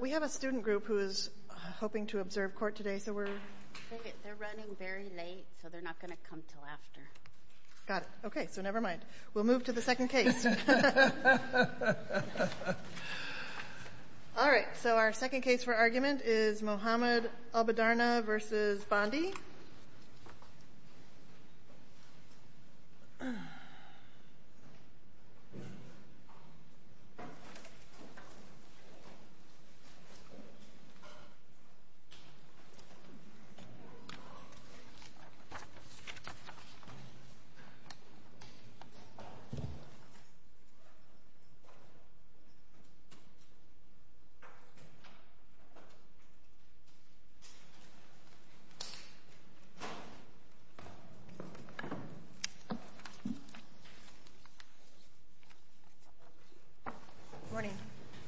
We have a student group who is hoping to observe court today, so we're. They're running very late, so they're not going to come till after. Got it. OK, so never mind. We'll move to the second case. All right, so our second case for argument is Mohammed Albadarneh v. Bondi.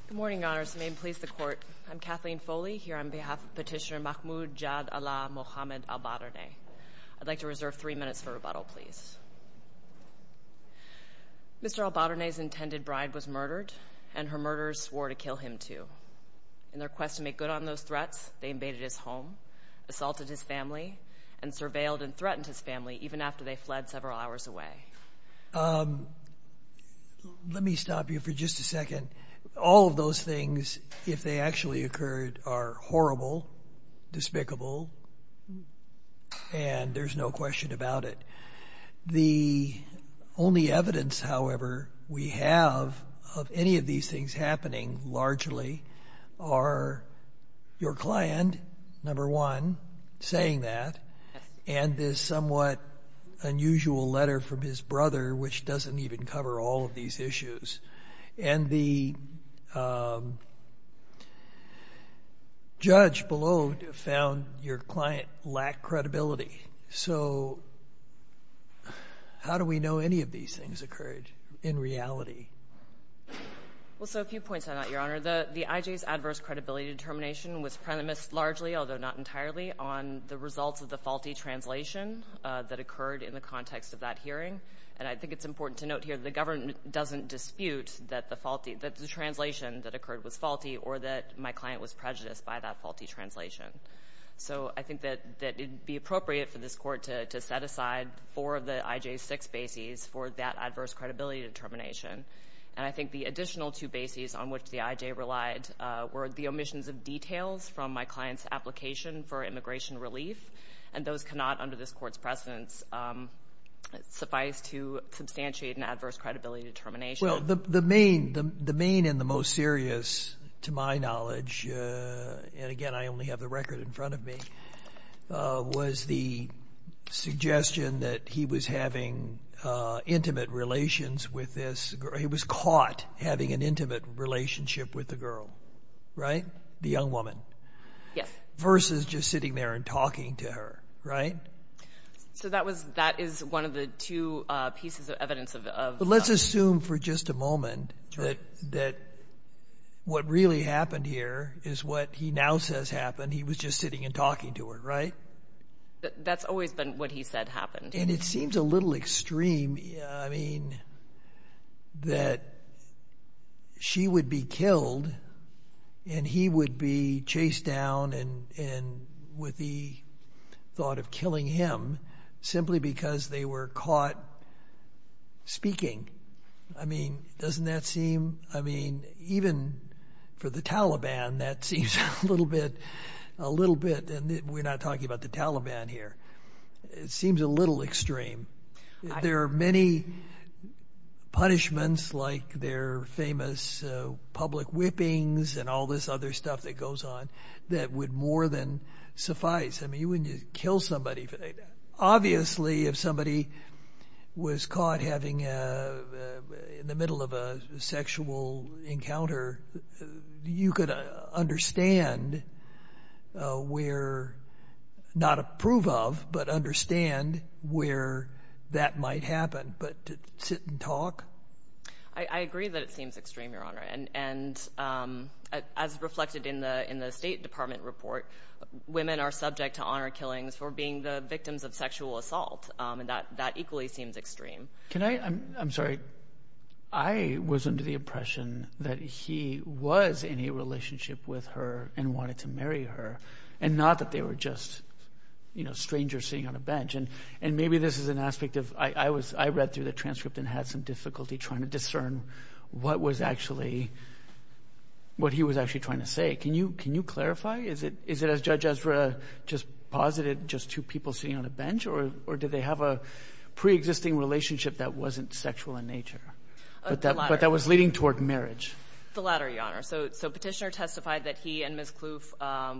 Good morning. Good morning, Your Honors. May it please the Court, I'm Kathleen Foley here on behalf of Petitioner Mahmoud Jad Allah Mohammed Albadarneh. I'd like to reserve three minutes for rebuttal, please. Mr. Albadarneh's intended bride was murdered, and her murderers swore to kill him, too. In their quest to make good on those threats, they invaded his home, assaulted his family, and surveilled and threatened his family, even after they fled several hours away. Let me stop you for just a second. All of those things, if they actually occurred, are horrible, despicable, and there's no question about it. The only evidence, however, we have of any of these things happening, largely, are your client, number one, saying that, and this somewhat unusual letter from his brother, which doesn't even cover all of these issues. And the judge below found your client lacked credibility. So how do we know any of these things occurred in reality? Well, so a few points on that, Your Honor. The IJ's adverse credibility determination was premised largely, although not entirely, on the results of the faulty translation that occurred in the context of that hearing. And I think it's important to note here that the government doesn't dispute that the translation that occurred was faulty or that my client was prejudiced by that faulty translation. So I think that it'd be appropriate for this court to set aside four of the IJ's six bases for that adverse credibility determination. And I think the additional two bases on which the IJ relied were the omissions of details from my client's application for immigration relief, and those cannot, under this court's precedence, suffice to substantiate an adverse credibility determination. Well, the main and the most serious, to my knowledge, and again, I only have the record in front of me, was the suggestion that he was having intimate relations with this girl. He was caught having an intimate relationship with the girl, the young woman, versus just sitting there and talking to her, right? So that is one of the two pieces of evidence of that. But let's assume for just a moment that what really happened here is what he now says happened. He was just sitting and talking to her, right? That's always been what he said happened. And it seems a little extreme, I mean, that she would be killed and he would be chased down and with the thought of killing him simply because they were caught speaking. I mean, doesn't that seem, I mean, even for the Taliban, that seems a little bit, and we're not talking about the Taliban here, it seems a little extreme. There are many punishments like their famous public whippings and all this other stuff that goes on that would more than suffice. I mean, you wouldn't kill somebody. Obviously, if somebody was caught having in the middle of a sexual encounter, you could understand where, not approve of, but understand where that might happen. But to sit and talk? I agree that it seems extreme, Your Honor. And as reflected in the State Department report, women are subject to honor killings for being the victims of sexual assault. And that equally seems extreme. Can I, I'm sorry, I was under the impression that he was in a relationship with her and wanted to marry her, and not that they were just, you know, strangers sitting on a bench. And maybe this is an aspect of, I read through the transcript and had some difficulty trying to discern what was actually, what he was actually trying to say. Can you clarify? Is it as Judge Ezra just posited, just two people sitting on a bench, or did they have a preexisting relationship that wasn't sexual in nature? But that was leading toward marriage. The latter, Your Honor. So Petitioner testified that he and Ms. Kluf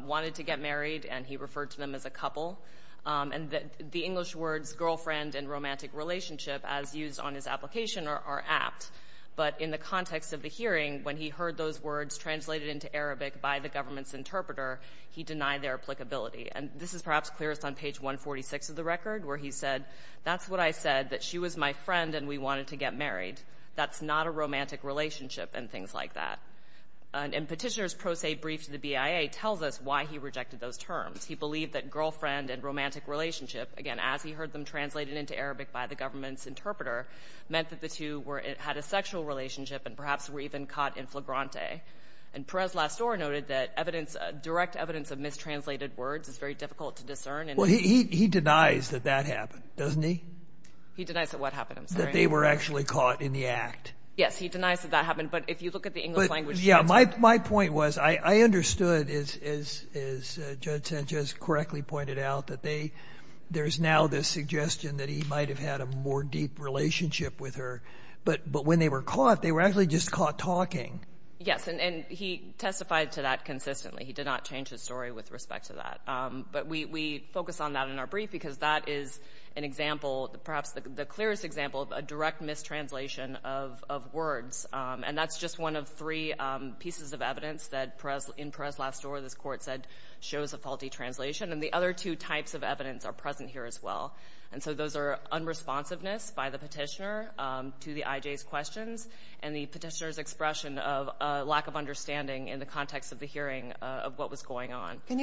wanted to get married and he referred to them as a couple. And the English words girlfriend and romantic relationship as used on his application are apt. But in the context of the hearing, when he heard those words translated into Arabic by the government's interpreter, he denied their applicability. And this is perhaps clearest on page 146 of the record, where he said, that's what I said, that she was my friend and we wanted to get married. That's not a romantic relationship and things like that. And Petitioner's pro se brief to the BIA tells us why he rejected those terms. He believed that girlfriend and romantic relationship, again, as he heard them translated into Arabic by the government's interpreter, meant that the two had a sexual relationship and perhaps were even caught in flagrante. And Perez-Lastor noted that direct evidence of mistranslated words is very difficult to discern. Well, he denies that that happened, doesn't he? He denies that what happened, I'm sorry. That they were actually caught in the act. Yes, he denies that that happened, but if you look at the English language transcript. My point was, I understood, as Judge Sanchez correctly pointed out, that there's now this suggestion that he might've had a more deep relationship with her, but when they were caught, they were actually just caught talking. Yes, and he testified to that consistently. He did not change his story with respect to that. But we focus on that in our brief because that is an example, perhaps the clearest example of a direct mistranslation of words. And that's just one of three pieces of evidence that in Perez-Lastor, this court said, shows a faulty translation. And the other two types of evidence are present here as well. And so those are unresponsiveness by the petitioner to the IJ's questions, and the petitioner's expression of a lack of understanding in the context of the hearing of what was going on. Can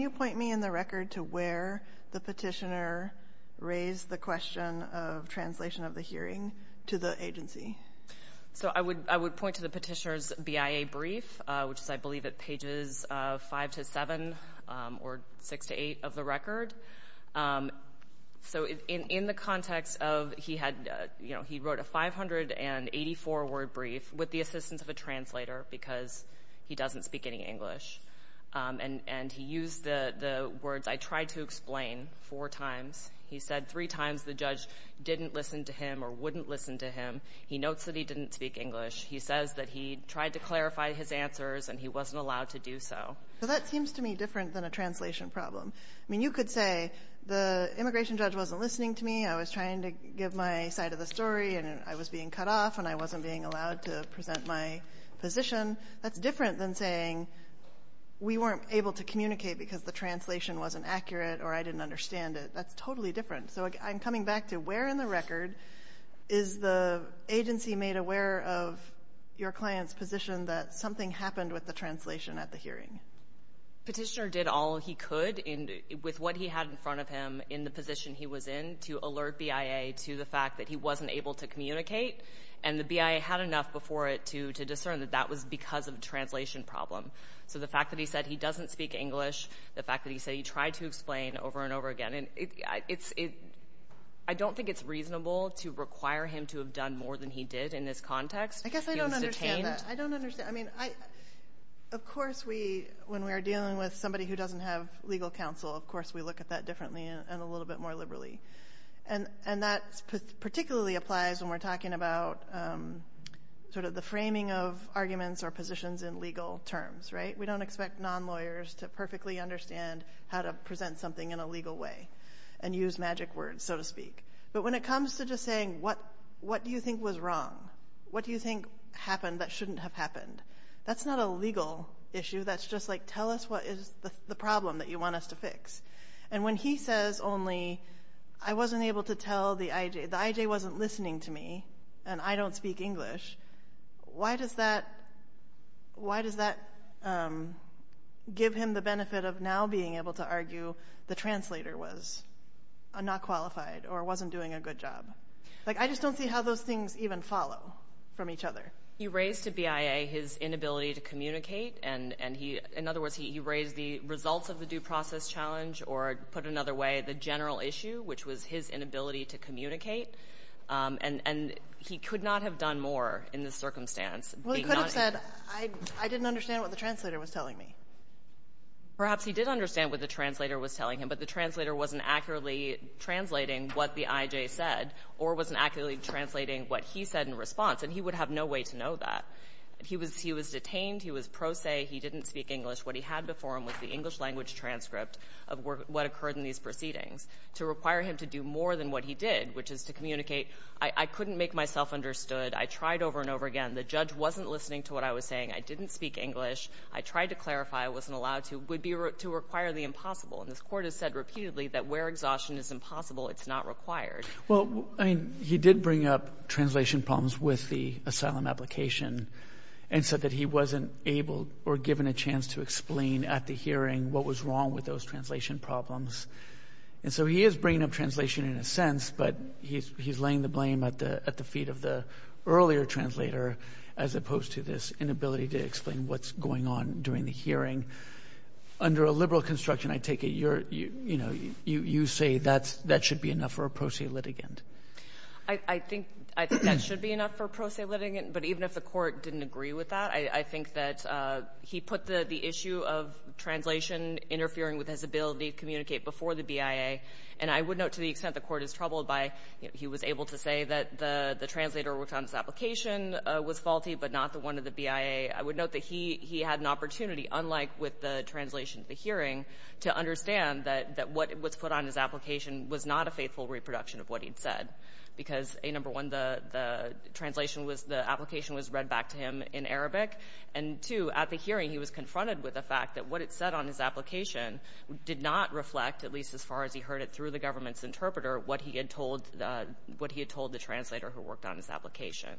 you point me in the record to where the petitioner raised the question of translation of the hearing to the agency? So I would point to the petitioner's BIA brief, which is, I believe, at pages five to seven, or six to eight of the record. So in the context of, he wrote a 584-word brief with the assistance of a translator because he doesn't speak any English. And he used the words, I tried to explain, four times. He said three times the judge didn't listen to him or wouldn't listen to him. He notes that he didn't speak English. He says that he tried to clarify his answers and he wasn't allowed to do so. So that seems to me different than a translation problem. I mean, you could say, the immigration judge wasn't listening to me. I was trying to give my side of the story and I was being cut off and I wasn't being allowed to present my position. That's different than saying, we weren't able to communicate because the translation wasn't accurate or I didn't understand it. That's totally different. So I'm coming back to where in the record is the agency made aware of your client's position that something happened with the translation at the hearing? Petitioner did all he could with what he had in front of him in the position he was in to alert BIA to the fact that he wasn't able to communicate. And the BIA had enough before it to discern that that was because of a translation problem. So the fact that he said he doesn't speak English, the fact that he said he tried to explain over and over again. I don't think it's reasonable to require him to have done more than he did in this context. I guess I don't understand that. I don't understand. I mean, of course, when we are dealing with somebody who doesn't have legal counsel, of course, we look at that differently and a little bit more liberally. And that particularly applies when we're talking about sort of the framing of arguments or positions in legal terms, right? We don't expect non-lawyers to perfectly understand how to present something in a legal way and use magic words, so to speak. But when it comes to just saying, what do you think was wrong? What do you think happened that shouldn't have happened? That's not a legal issue. That's just like, tell us what is the problem that you want us to fix. And when he says only, I wasn't able to tell the IJ, the IJ wasn't listening to me and I don't speak English, why does that give him the benefit of now being able to argue the translator was not qualified or wasn't doing a good job? Like, I just don't see how those things even follow from each other. He raised to BIA his inability to communicate. And he, in other words, he raised the results of the due process challenge or put another way, the general issue, which was his inability to communicate. And he could not have done more in this circumstance. Well, he could have said, I didn't understand what the translator was telling me. Perhaps he did understand what the translator was telling him, but the translator wasn't accurately translating what the IJ said or wasn't accurately translating what he said in response. And he would have no way to know that. He was detained. He was pro se. He didn't speak English. What he had before him was the English language transcript of what occurred in these proceedings to require him to do more than what he did, which is to communicate. I couldn't make myself understood. I tried over and over again. The judge wasn't listening to what I was saying. I didn't speak English. I tried to clarify. I wasn't allowed to. Would be to require the impossible. And this court has said repeatedly that where exhaustion is impossible, it's not required. Well, I mean, he did bring up translation problems with the asylum application and said that he wasn't able or given a chance to explain at the hearing what was wrong with those translation problems. And so he is bringing up translation in a sense, but he's laying the blame at the feet of the earlier translator, as opposed to this inability to explain what's going on during the hearing. Under a liberal construction, I take it you're, you know, you say that's, that should be enough for a pro se litigant. I think that should be enough for a pro se litigant, but even if the court didn't agree with that, I think that he put the issue of translation interfering with his ability to communicate before the BIA. And I would note to the extent the court is troubled by, you know, he was able to say that the translator worked on this application was faulty, but not the one of the BIA. I would note that he had an opportunity, unlike with the translation at the hearing, to understand that what was put on his application was not a faithful reproduction of what he'd said. Because A, number one, the translation was, the application was read back to him in Arabic. And two, at the hearing, he was confronted with the fact that what it said on his application did not reflect, at least as far as he heard it through the government's interpreter, what he had told the translator who worked on his application.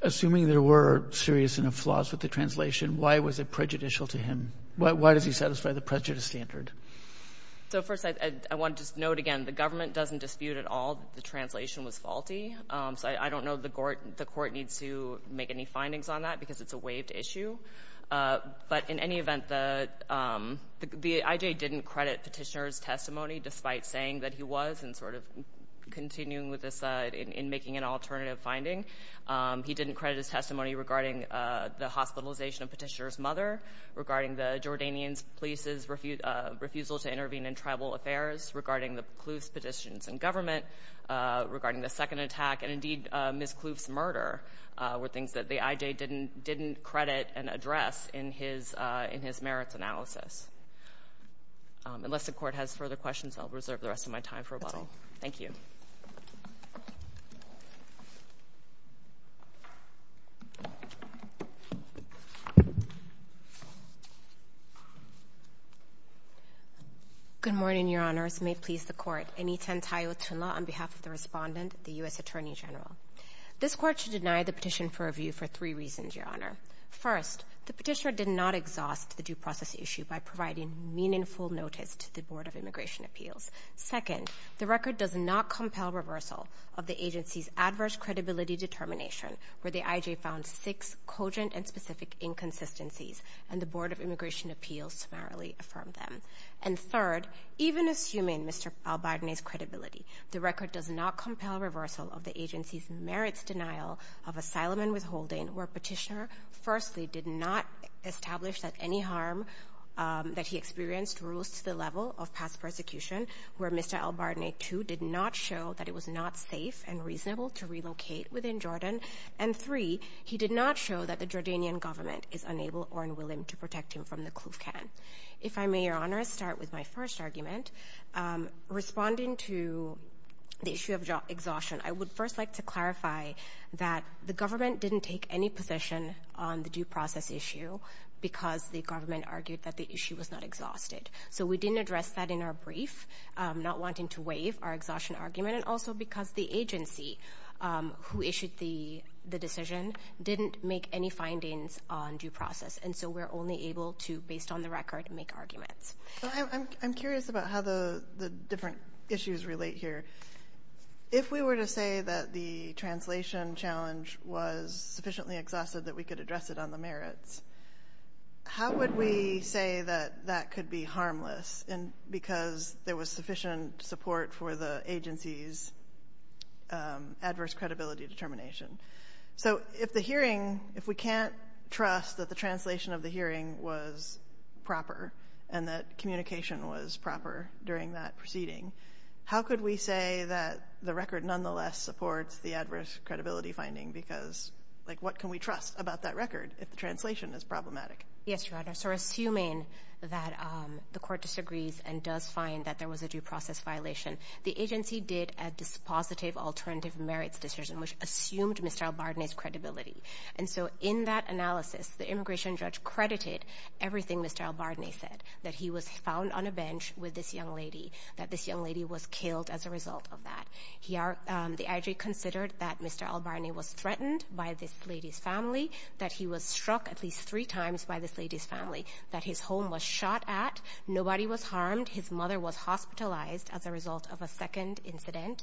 Assuming there were serious enough flaws with the translation, why was it prejudicial to him? Why does he satisfy the prejudice standard? So first, I want to just note again, the government doesn't dispute at all that the translation was faulty. So I don't know the court needs to make any findings on that because it's a waived issue. But in any event, the IJ didn't credit Petitioner's testimony despite saying that he was, and sort of continuing with this in making an alternative finding. He didn't credit his testimony regarding the hospitalization of Petitioner's mother, regarding the Jordanian police's refusal to intervene in tribal affairs, regarding the Kloof's petitions in government, regarding the second attack, and indeed, Ms. Kloof's murder were things that the IJ didn't credit and address in his merits analysis. Unless the court has further questions, I'll reserve the rest of my time for a while. Thank you. Good morning, Your Honors. May it please the court. Anitan Tayotunla on behalf of the respondent, the U.S. Attorney General. This court should deny the petition for review for three reasons, Your Honor. First, the Petitioner did not exhaust the due process issue by providing meaningful notice to the Board of Immigration Appeals. Second, the record does not compel reversal of the agency's adverse credibility determination where the IJ found six cogent and specific inconsistencies and the Board of Immigration Appeals summarily affirmed them. And third, even assuming Mr. Albarnet's credibility, the record does not compel reversal of the agency's merits denial of asylum and withholding where Petitioner, firstly, did not establish that any harm that he experienced rose to the level of past persecution where Mr. Albarnet, too, did not show that it was not safe and reasonable to relocate within Jordan. And three, he did not show that the Jordanian government is unable or unwilling to protect him from the Kluvkan. If I may, Your Honor, start with my first argument. Responding to the issue of exhaustion, I would first like to clarify that the government didn't take any position on the due process issue because the government argued that the issue was not exhausted. So we didn't address that in our brief, not wanting to waive our exhaustion argument, and also because the agency who issued the decision didn't make any findings on due process. And so we're only able to, based on the record, make arguments. I'm curious about how the different issues relate here. If we were to say that the translation challenge was sufficiently exhausted that we could address it on the merits, how would we say that that could be harmless because there was sufficient support for the agency's adverse credibility determination? So if the hearing, if we can't trust that the translation of the hearing was proper and that communication was proper during that proceeding, how could we say that the record nonetheless supports the adverse credibility finding? Because what can we trust about that record if the translation is problematic? Yes, Your Honor. So assuming that the court disagrees and does find that there was a due process violation, the agency did a dispositive alternative merits decision which assumed Mr. Albarne's credibility. And so in that analysis, the immigration judge credited everything Mr. Albarne said, that he was found on a bench with this young lady, that this young lady was killed as a result of that. The IJ considered that Mr. Albarne was threatened by this lady's family, that he was struck at least three times by this lady's family, that his home was shot at, nobody was harmed, his mother was hospitalized as a result of a second incident,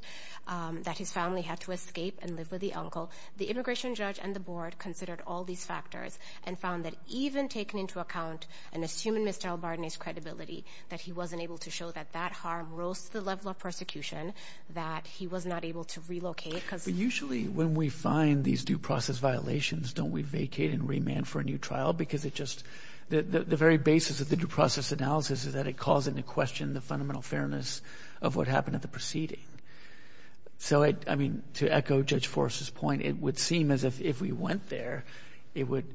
that his family had to escape and live with the uncle. The immigration judge and the board considered all these factors and found that even taking into account and assuming Mr. Albarne's credibility, that he wasn't able to show that that harm rose to the level of persecution, that he was not able to relocate because- But usually when we find these due process violations, don't we vacate and remand for a new trial? Because it just, the very basis of the due process analysis is that it calls into question the fundamental fairness of what happened at the proceeding. So I mean, to echo Judge Forrest's point, it would seem as if we went there, it would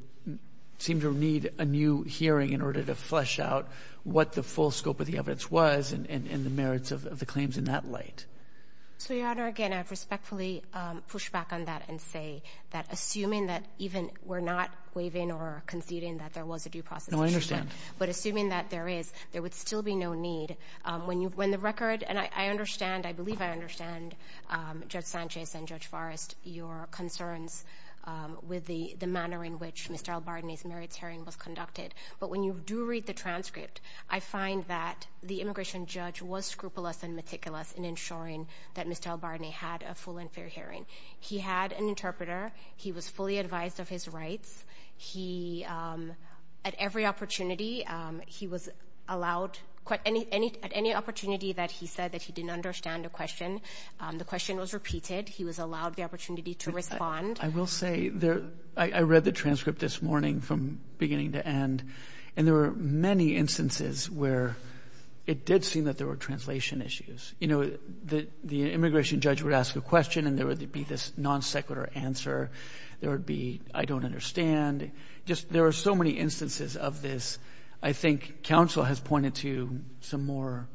seem to need a new hearing in order to flesh out what the full scope of the evidence was and the merits of the claims in that light. So Your Honor, again, I respectfully push back on that and say that assuming that even we're not waiving or conceding that there was a due process- No, I understand. But assuming that there is, there would still be no need. When the record, and I understand, I believe I understand Judge Sanchez and Judge Forrest, your concerns with the manner in which Mr. Albarne's merits hearing was conducted. But when you do read the transcript, I find that the immigration judge was scrupulous and meticulous in ensuring that Mr. Albarne had a full and fair hearing. He had an interpreter. He was fully advised of his rights. He, at every opportunity, he was allowed, at any opportunity that he said that he didn't understand a question, the question was repeated. He was allowed the opportunity to respond. I will say, I read the transcript this morning from beginning to end, and there were many instances where it did seem that there were translation issues. You know, the immigration judge would ask a question and there would be this non-sequitur answer. There would be, I don't understand. Just, there are so many instances of this. I think counsel has pointed to some more,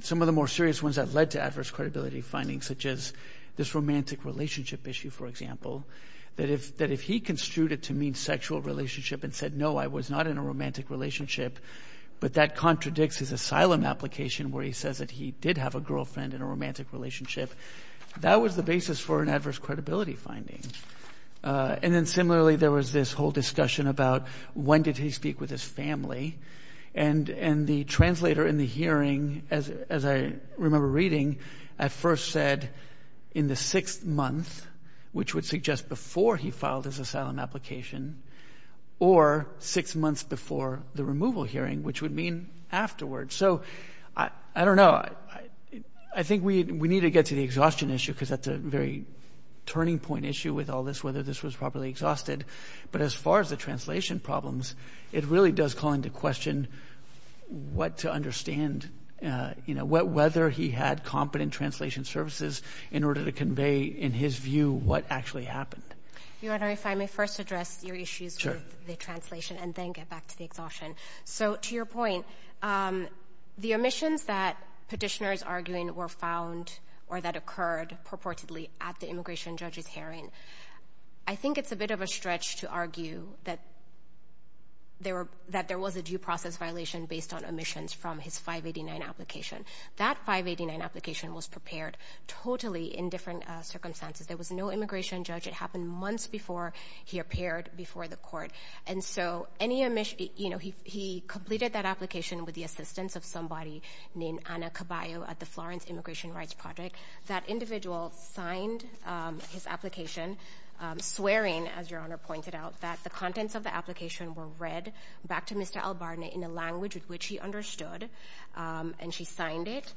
some of the more serious ones that led to adverse credibility findings, such as this romantic relationship issue, for example, that if he construed it to mean sexual relationship and said, no, I was not in a romantic relationship, but that contradicts his asylum application where he says that he did have a girlfriend in a romantic relationship, that was the basis for an adverse credibility finding. And then similarly, there was this whole discussion about when did he speak with his family? And the translator in the hearing, as I remember reading, at first said in the sixth month, which would suggest before he filed his asylum application, or six months before the removal hearing, which would mean afterwards. So, I don't know. I think we need to get to the exhaustion issue because that's a very turning point issue with all this, whether this was properly exhausted. But as far as the translation problems, it really does call into question what to understand, you know, whether he had competent translation services in order to convey, in his view, what actually happened. Your Honor, if I may first address your issues with the translation and then get back to the exhaustion. So, to your point, the omissions that Petitioner is arguing were found, or that occurred purportedly at the immigration judge's hearing, I think it's a bit of a stretch to argue that there was a due process violation based on omissions from his 589 application. That 589 application was prepared totally in different circumstances. There was no immigration judge. It happened months before he appeared before the court. And so, any omission, you know, he completed that application with the assistance of somebody named Ana Caballo at the Florence Immigration Rights Project. That individual signed his application, swearing, as your Honor pointed out, that the contents of the application were read back to Mr. Albarnett in a language with which he understood, and she signed it.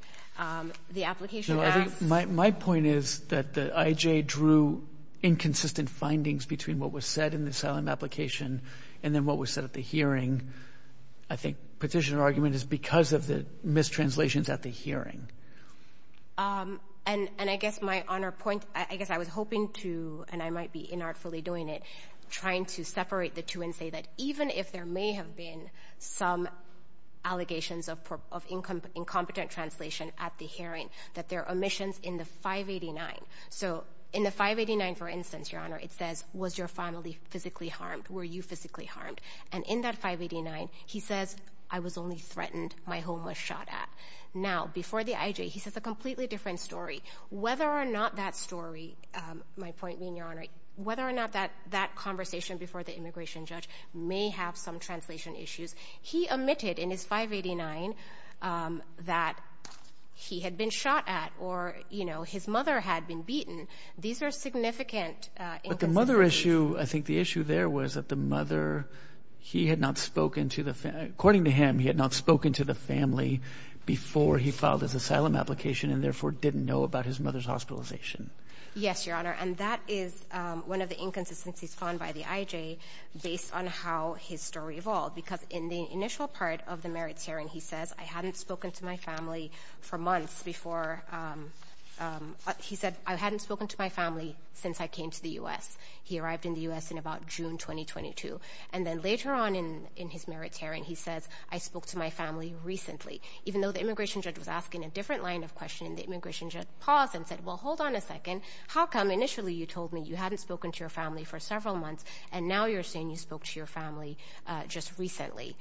The application asked- No, I think my point is that the IJ drew inconsistent findings between what was said in the asylum application and then what was said at the hearing. I think Petitioner's argument is because of the mistranslations at the hearing. And I guess my Honor point, I guess I was hoping to, and I might be inartfully doing it, trying to separate the two and say that even if there may have been some allegations of incompetent translation at the hearing, that there are omissions in the 589. So, in the 589, for instance, your Honor, it says, was your family physically harmed? Were you physically harmed? And in that 589, he says, I was only threatened my home was shot at. Now, before the IJ, he says a completely different story. Whether or not that story, my point being, your Honor, whether or not that conversation before the immigration judge may have some translation issues, he omitted in his 589 that he had been shot at or his mother had been beaten. These are significant inconsistencies. But the mother issue, I think the issue there was that the mother, he had not spoken to the, according to him, he had not spoken to the family before he filed his asylum application and therefore didn't know about his mother's hospitalization. Yes, your Honor. And that is one of the inconsistencies found by the IJ based on how his story evolved. Because in the initial part of the merits hearing, he says, I hadn't spoken to my family for months before. He said, I hadn't spoken to my family since I came to the US. He arrived in the US in about June, 2022. And then later on in his merits hearing, he says, I spoke to my family recently. Even though the immigration judge was asking a different line of questioning, the immigration judge paused and said, well, hold on a second. How come initially you told me you hadn't spoken to your family for several months and now you're saying you spoke to your family just recently?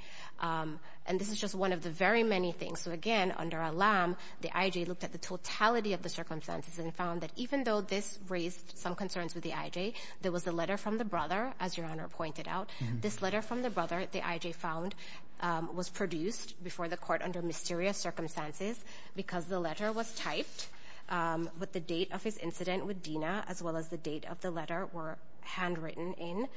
And this is just one of the very many things. So again, under a lamb, the IJ looked at the totality of the circumstances and found that even though this raised some concerns with the IJ, there was a letter from the brother, as your Honor pointed out. This letter from the brother, the IJ found, was produced before the court under mysterious circumstances because the letter was typed with the date of his incident with Dina, as well as the date of the letter were handwritten in.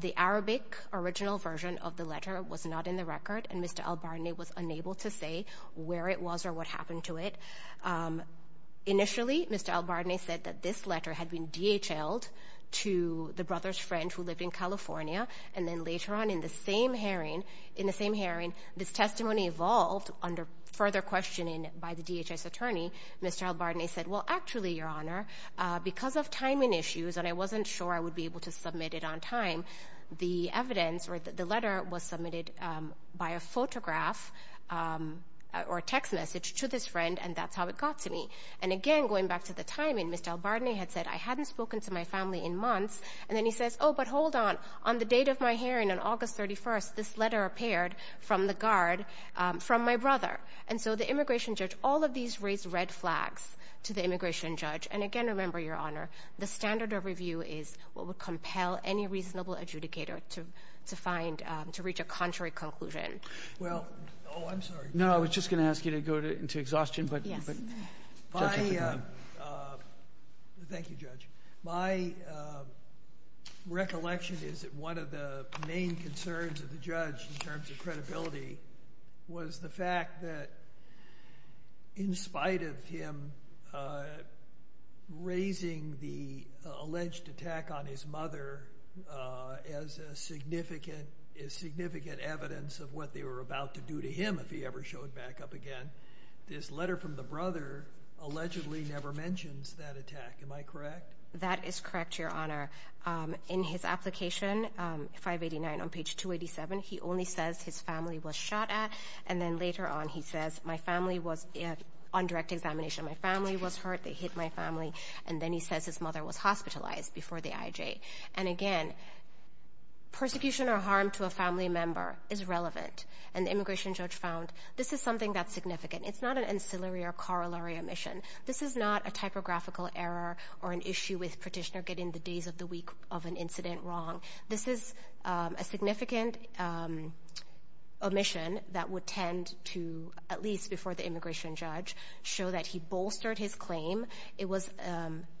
The Arabic original version of the letter was not in the record. And Mr. Albarnet was unable to say where it was or what happened to it. Initially, Mr. Albarnet said that this letter had been DHLed to the brother's friend who lived in California. And then later on in the same hearing, this testimony evolved under further questioning by the DHS attorney. Mr. Albarnet said, well, actually, your Honor, because of timing issues, and I wasn't sure I would be able to submit it on time, the evidence or the letter was submitted by a photograph or a text message to this friend, and that's how it got to me. And again, going back to the timing, Mr. Albarnet had said, I hadn't spoken to my family in months. And then he says, oh, but hold on. On the date of my hearing on August 31st, this letter appeared from the guard from my brother. And so the immigration judge, all of these raised red flags to the immigration judge. And again, remember, your Honor, the standard of review is what would compel any reasonable adjudicator to find, to reach a contrary conclusion. Well, oh, I'm sorry. No, I was just gonna ask you to go into exhaustion, but- Yes. Thank you, Judge. My recollection is that one of the main concerns of the judge in terms of credibility was the fact that in spite of him raising the alleged attack on his mother as significant evidence of what they were about to do to him if he ever showed back up again, this letter from the brother allegedly never mentions that attack. Am I correct? That is correct, Your Honor. In his application, 589 on page 287, he only says his family was shot at. And then later on, he says, my family was on direct examination. My family was hurt. They hit my family. And then he says his mother was hospitalized before the IJ. And again, persecution or harm to a family member is relevant, and the immigration judge found this is something that's significant. It's not an ancillary or corollary omission. This is not a typographical error or an issue with petitioner getting the days of the week of an incident wrong. This is a significant omission that would tend to, at least before the immigration judge, show that he bolstered his claim. It was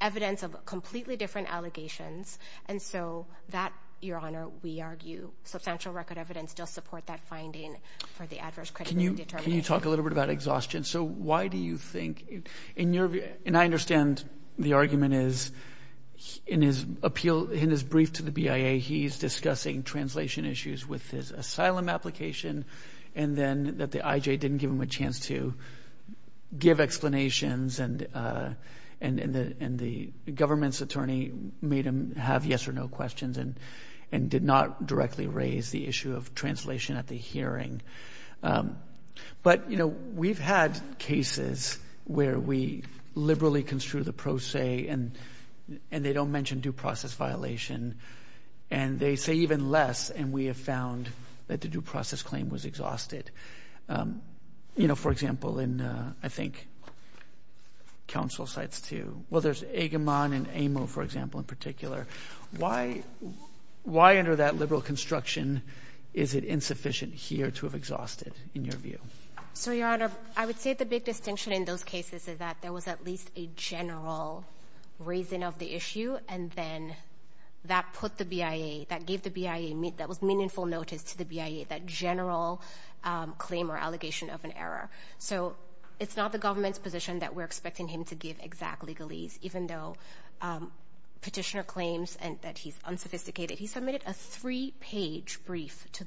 evidence of completely different allegations. And so that, Your Honor, we argue, substantial record evidence does support that finding for the adverse crediting determination. Can you talk a little bit about exhaustion? So why do you think, in your view, and I understand the argument is in his appeal, in his brief to the BIA, he's discussing translation issues with his asylum application, and then that the IJ didn't give him a chance to give explanations, and the government's attorney made him have yes or no questions, and did not directly raise the issue of translation at the hearing. But we've had cases where we liberally construe the pro se, and they don't mention due process violation, and they say even less, and we have found that the due process claim was exhausted. You know, for example, in, I think, council sites too, well, there's Agamon and Amo, for example, in particular. Why under that liberal construction is it insufficient here to have exhausted, in your view? So, Your Honor, I would say the big distinction in those cases is that there was at least a general reason of the issue, and then that put the BIA, that gave the BIA, that was meaningful notice to the BIA, that general claim or allegation of an error. So, it's not the government's position that we're expecting him to give exact legalese, even though petitioner claims that he's unsophisticated. He submitted a three-page brief to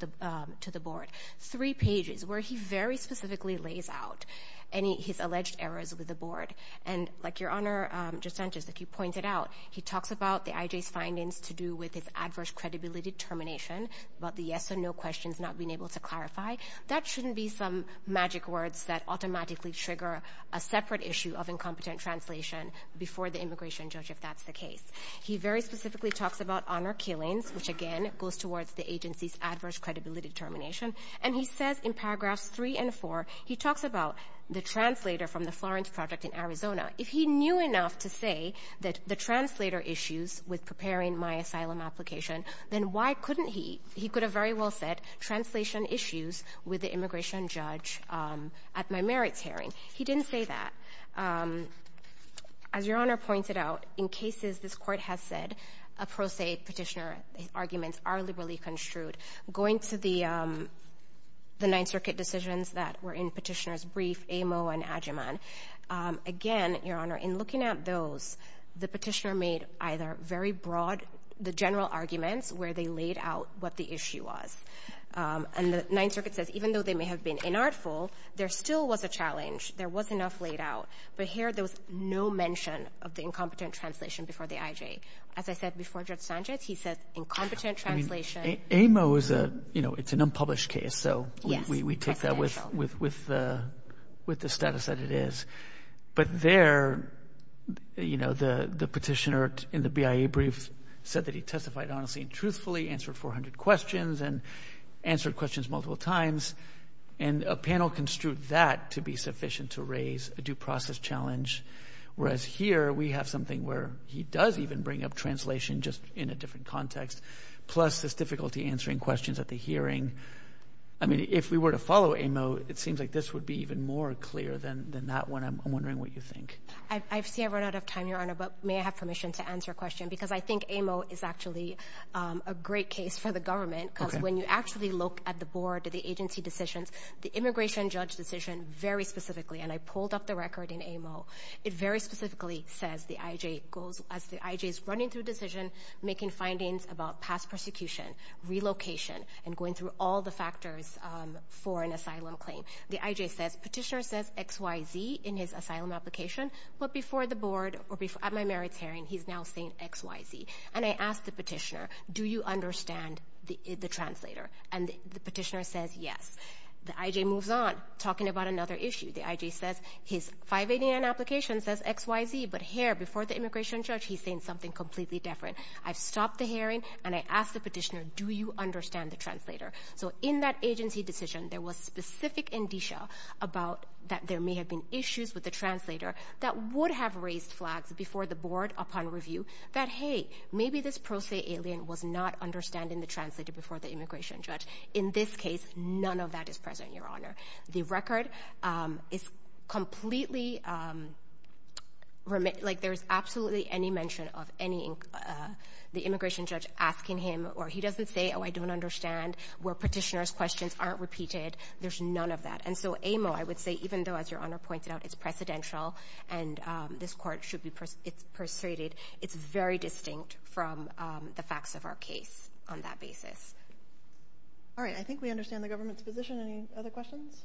the board, three pages, where he very specifically lays out any, his alleged errors with the board, and, like Your Honor, Justin, just like you pointed out, he talks about the IJ's findings to do with its adverse credibility determination, about the yes or no questions not being able to clarify. That shouldn't be some magic words that automatically trigger a separate issue of incompetent translation before the immigration judge, if that's the case. He very specifically talks about honor killings, which, again, goes towards the agency's adverse credibility determination, and he says in paragraphs three and four, he talks about the translator from the Florence Project in Arizona. If he knew enough to say that the translator issues with preparing my asylum application, then why couldn't he? He could have very well said translation issues with the immigration judge at my merits hearing. He didn't say that. As Your Honor pointed out, in cases this court has said, a pro se petitioner arguments are liberally construed. Going to the Ninth Circuit decisions that were in petitioner's brief, Amo and Agyeman, again, Your Honor, in looking at those, the petitioner made either very broad, the general arguments where they laid out what the issue was. And the Ninth Circuit says, even though they may have been inartful, there still was a challenge. There was enough laid out. But here, there was no mention of the incompetent translation before the IJ. As I said before Judge Sanchez, he said incompetent translation. Amo is a, you know, it's an unpublished case, so we take that with the status that it is. But there, you know, the petitioner in the BIA brief said that he testified honestly and truthfully, answered 400 questions, and answered questions multiple times. And a panel construed that to be sufficient to raise a due process challenge. Whereas here, we have something where he does even bring up translation, just in a different context, plus this difficulty answering questions at the hearing. I mean, if we were to follow Amo, it seems like this would be even more clear than that one. I'm wondering what you think. I see I've run out of time, Your Honor, but may I have permission to answer a question? Because I think Amo is actually a great case for the government, because when you actually look at the board, the agency decisions, the immigration judge decision very specifically, and I pulled up the record in Amo, it very specifically says the IJ goes, as the IJ is running through decision, making findings about past persecution, relocation, and going through all the factors for an asylum claim. The IJ says, petitioner says XYZ in his asylum application, but before the board, at my merits hearing, he's now saying XYZ. And I asked the petitioner, do you understand the translator? And the petitioner says yes. The IJ moves on, talking about another issue. The IJ says his 589 application says XYZ, but here, before the immigration judge, he's saying something completely different. I've stopped the hearing, and I asked the petitioner, do you understand the translator? So in that agency decision, there was specific indicia about that there may have been issues with the translator that would have raised flags before the board upon review that, hey, maybe this pro se alien was not understanding the translator before the immigration judge. In this case, none of that is present, Your Honor. The record is completely, like there's absolutely any mention of the immigration judge asking him, or he doesn't say, oh, I don't understand, where petitioner's questions aren't repeated, there's none of that. And so Amo, I would say, even though, as Your Honor pointed out, it's precedential, and this court should be persuaded, it's very distinct from the facts of our case on that basis. All right, I think we understand the government's position. Any other questions?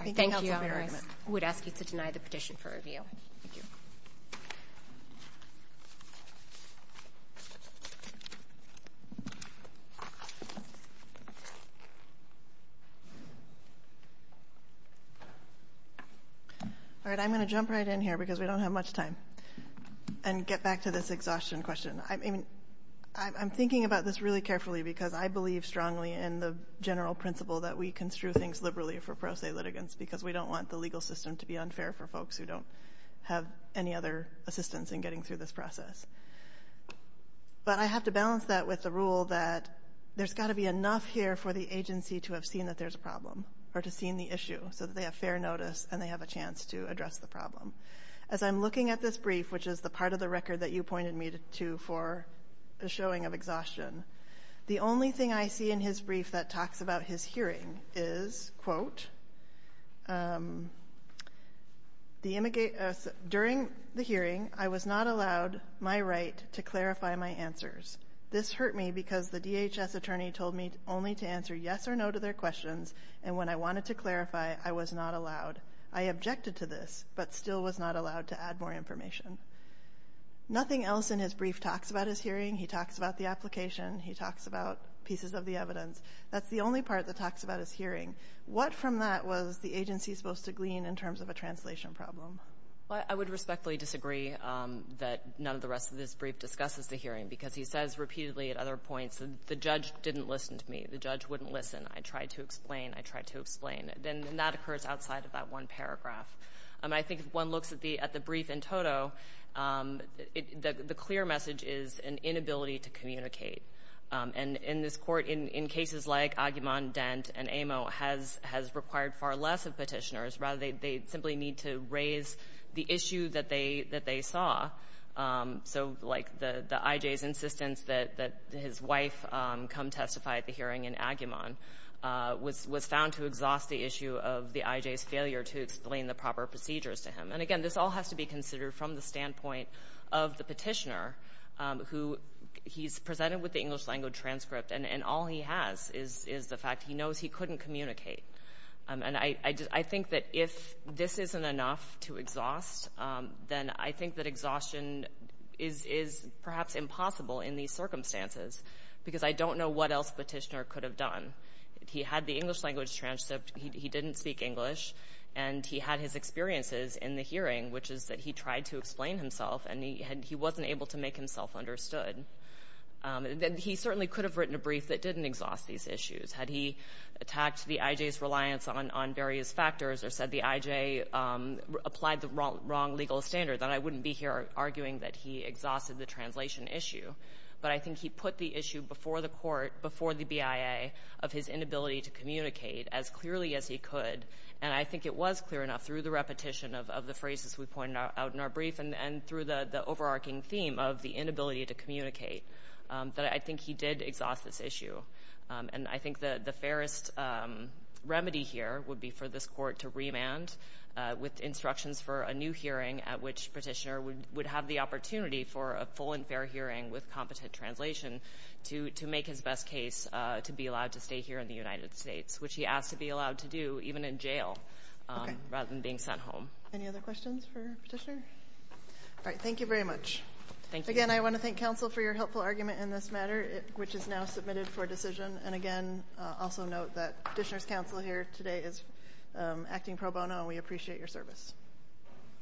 I think that's a very good point. I would ask you to deny the petition for review. Thank you. All right, I'm gonna jump right in here because we don't have much time, and get back to this exhaustion question. I mean, I'm thinking about this really carefully because I believe strongly in the general principle that we construe things liberally for pro se litigants because we don't want the legal system to be unfair for folks who don't have any other assistance in getting through this process. But I have to balance that with the rule that there's gotta be enough here for the agency to have seen that there's a problem, or to seen the issue, so that they have fair notice and they have a chance to address the problem. As I'm looking at this brief, which is the part of the record that you pointed me to for a showing of exhaustion, the only thing I see in his brief that talks about his hearing is, quote, during the hearing, I was not allowed my right to clarify my answers. This hurt me because the DHS attorney told me only to answer yes or no to their questions, and when I wanted to clarify, I was not allowed. I objected to this, but still was not allowed to add more information. Nothing else in his brief talks about his hearing. He talks about the application. He talks about pieces of the evidence. That's the only part that talks about his hearing. What from that was the agency supposed to glean in terms of a translation problem? Well, I would respectfully disagree that none of the rest of this brief discusses the hearing because he says repeatedly at other points that the judge didn't listen to me. The judge wouldn't listen. I tried to explain. I tried to explain, and that occurs outside of that one paragraph. I think if one looks at the brief in total, the clear message is an inability to communicate, and in this court, in cases like Aguiman, Dent, and Amo, has required far less of petitioners. Rather, they simply need to raise the issue that they saw, so like the IJ's insistence that his wife come testify at the hearing in Aguiman was found to exhaust the issue of the IJ's failure to explain the proper procedures to him, and again, this all has to be considered from the standpoint of the petitioner who he's presented with the English language transcript, and all he has is the fact he knows he couldn't communicate, and I think that if this isn't enough to exhaust, then I think that exhaustion is perhaps impossible in these circumstances, because I don't know what else the petitioner could have done. If he had the English language transcript, he didn't speak English, and he had his experiences in the hearing, which is that he tried to explain himself, and he wasn't able to make himself understood. He certainly could have written a brief that didn't exhaust these issues. Had he attacked the IJ's reliance on various factors or said the IJ applied the wrong legal standard, then I wouldn't be here arguing that he exhausted the translation issue, but I think he put the issue before the court, before the BIA of his inability to communicate as clearly as he could, and I think it was clear enough through the repetition of the phrases we pointed out in our brief and through the overarching theme of the inability to communicate that I think he did exhaust this issue, and I think the fairest remedy here would be for this court to remand with instructions for a new hearing at which Petitioner would have the opportunity for a full and fair hearing with competent translation to make his best case to be allowed to stay here in the United States, which he asked to be allowed to do even in jail rather than being sent home. Any other questions for Petitioner? All right, thank you very much. Thank you. Again, I want to thank counsel for your helpful argument in this matter, which is now submitted for decision, and again, also note that Petitioner's counsel here today is acting pro bono, and we appreciate your service.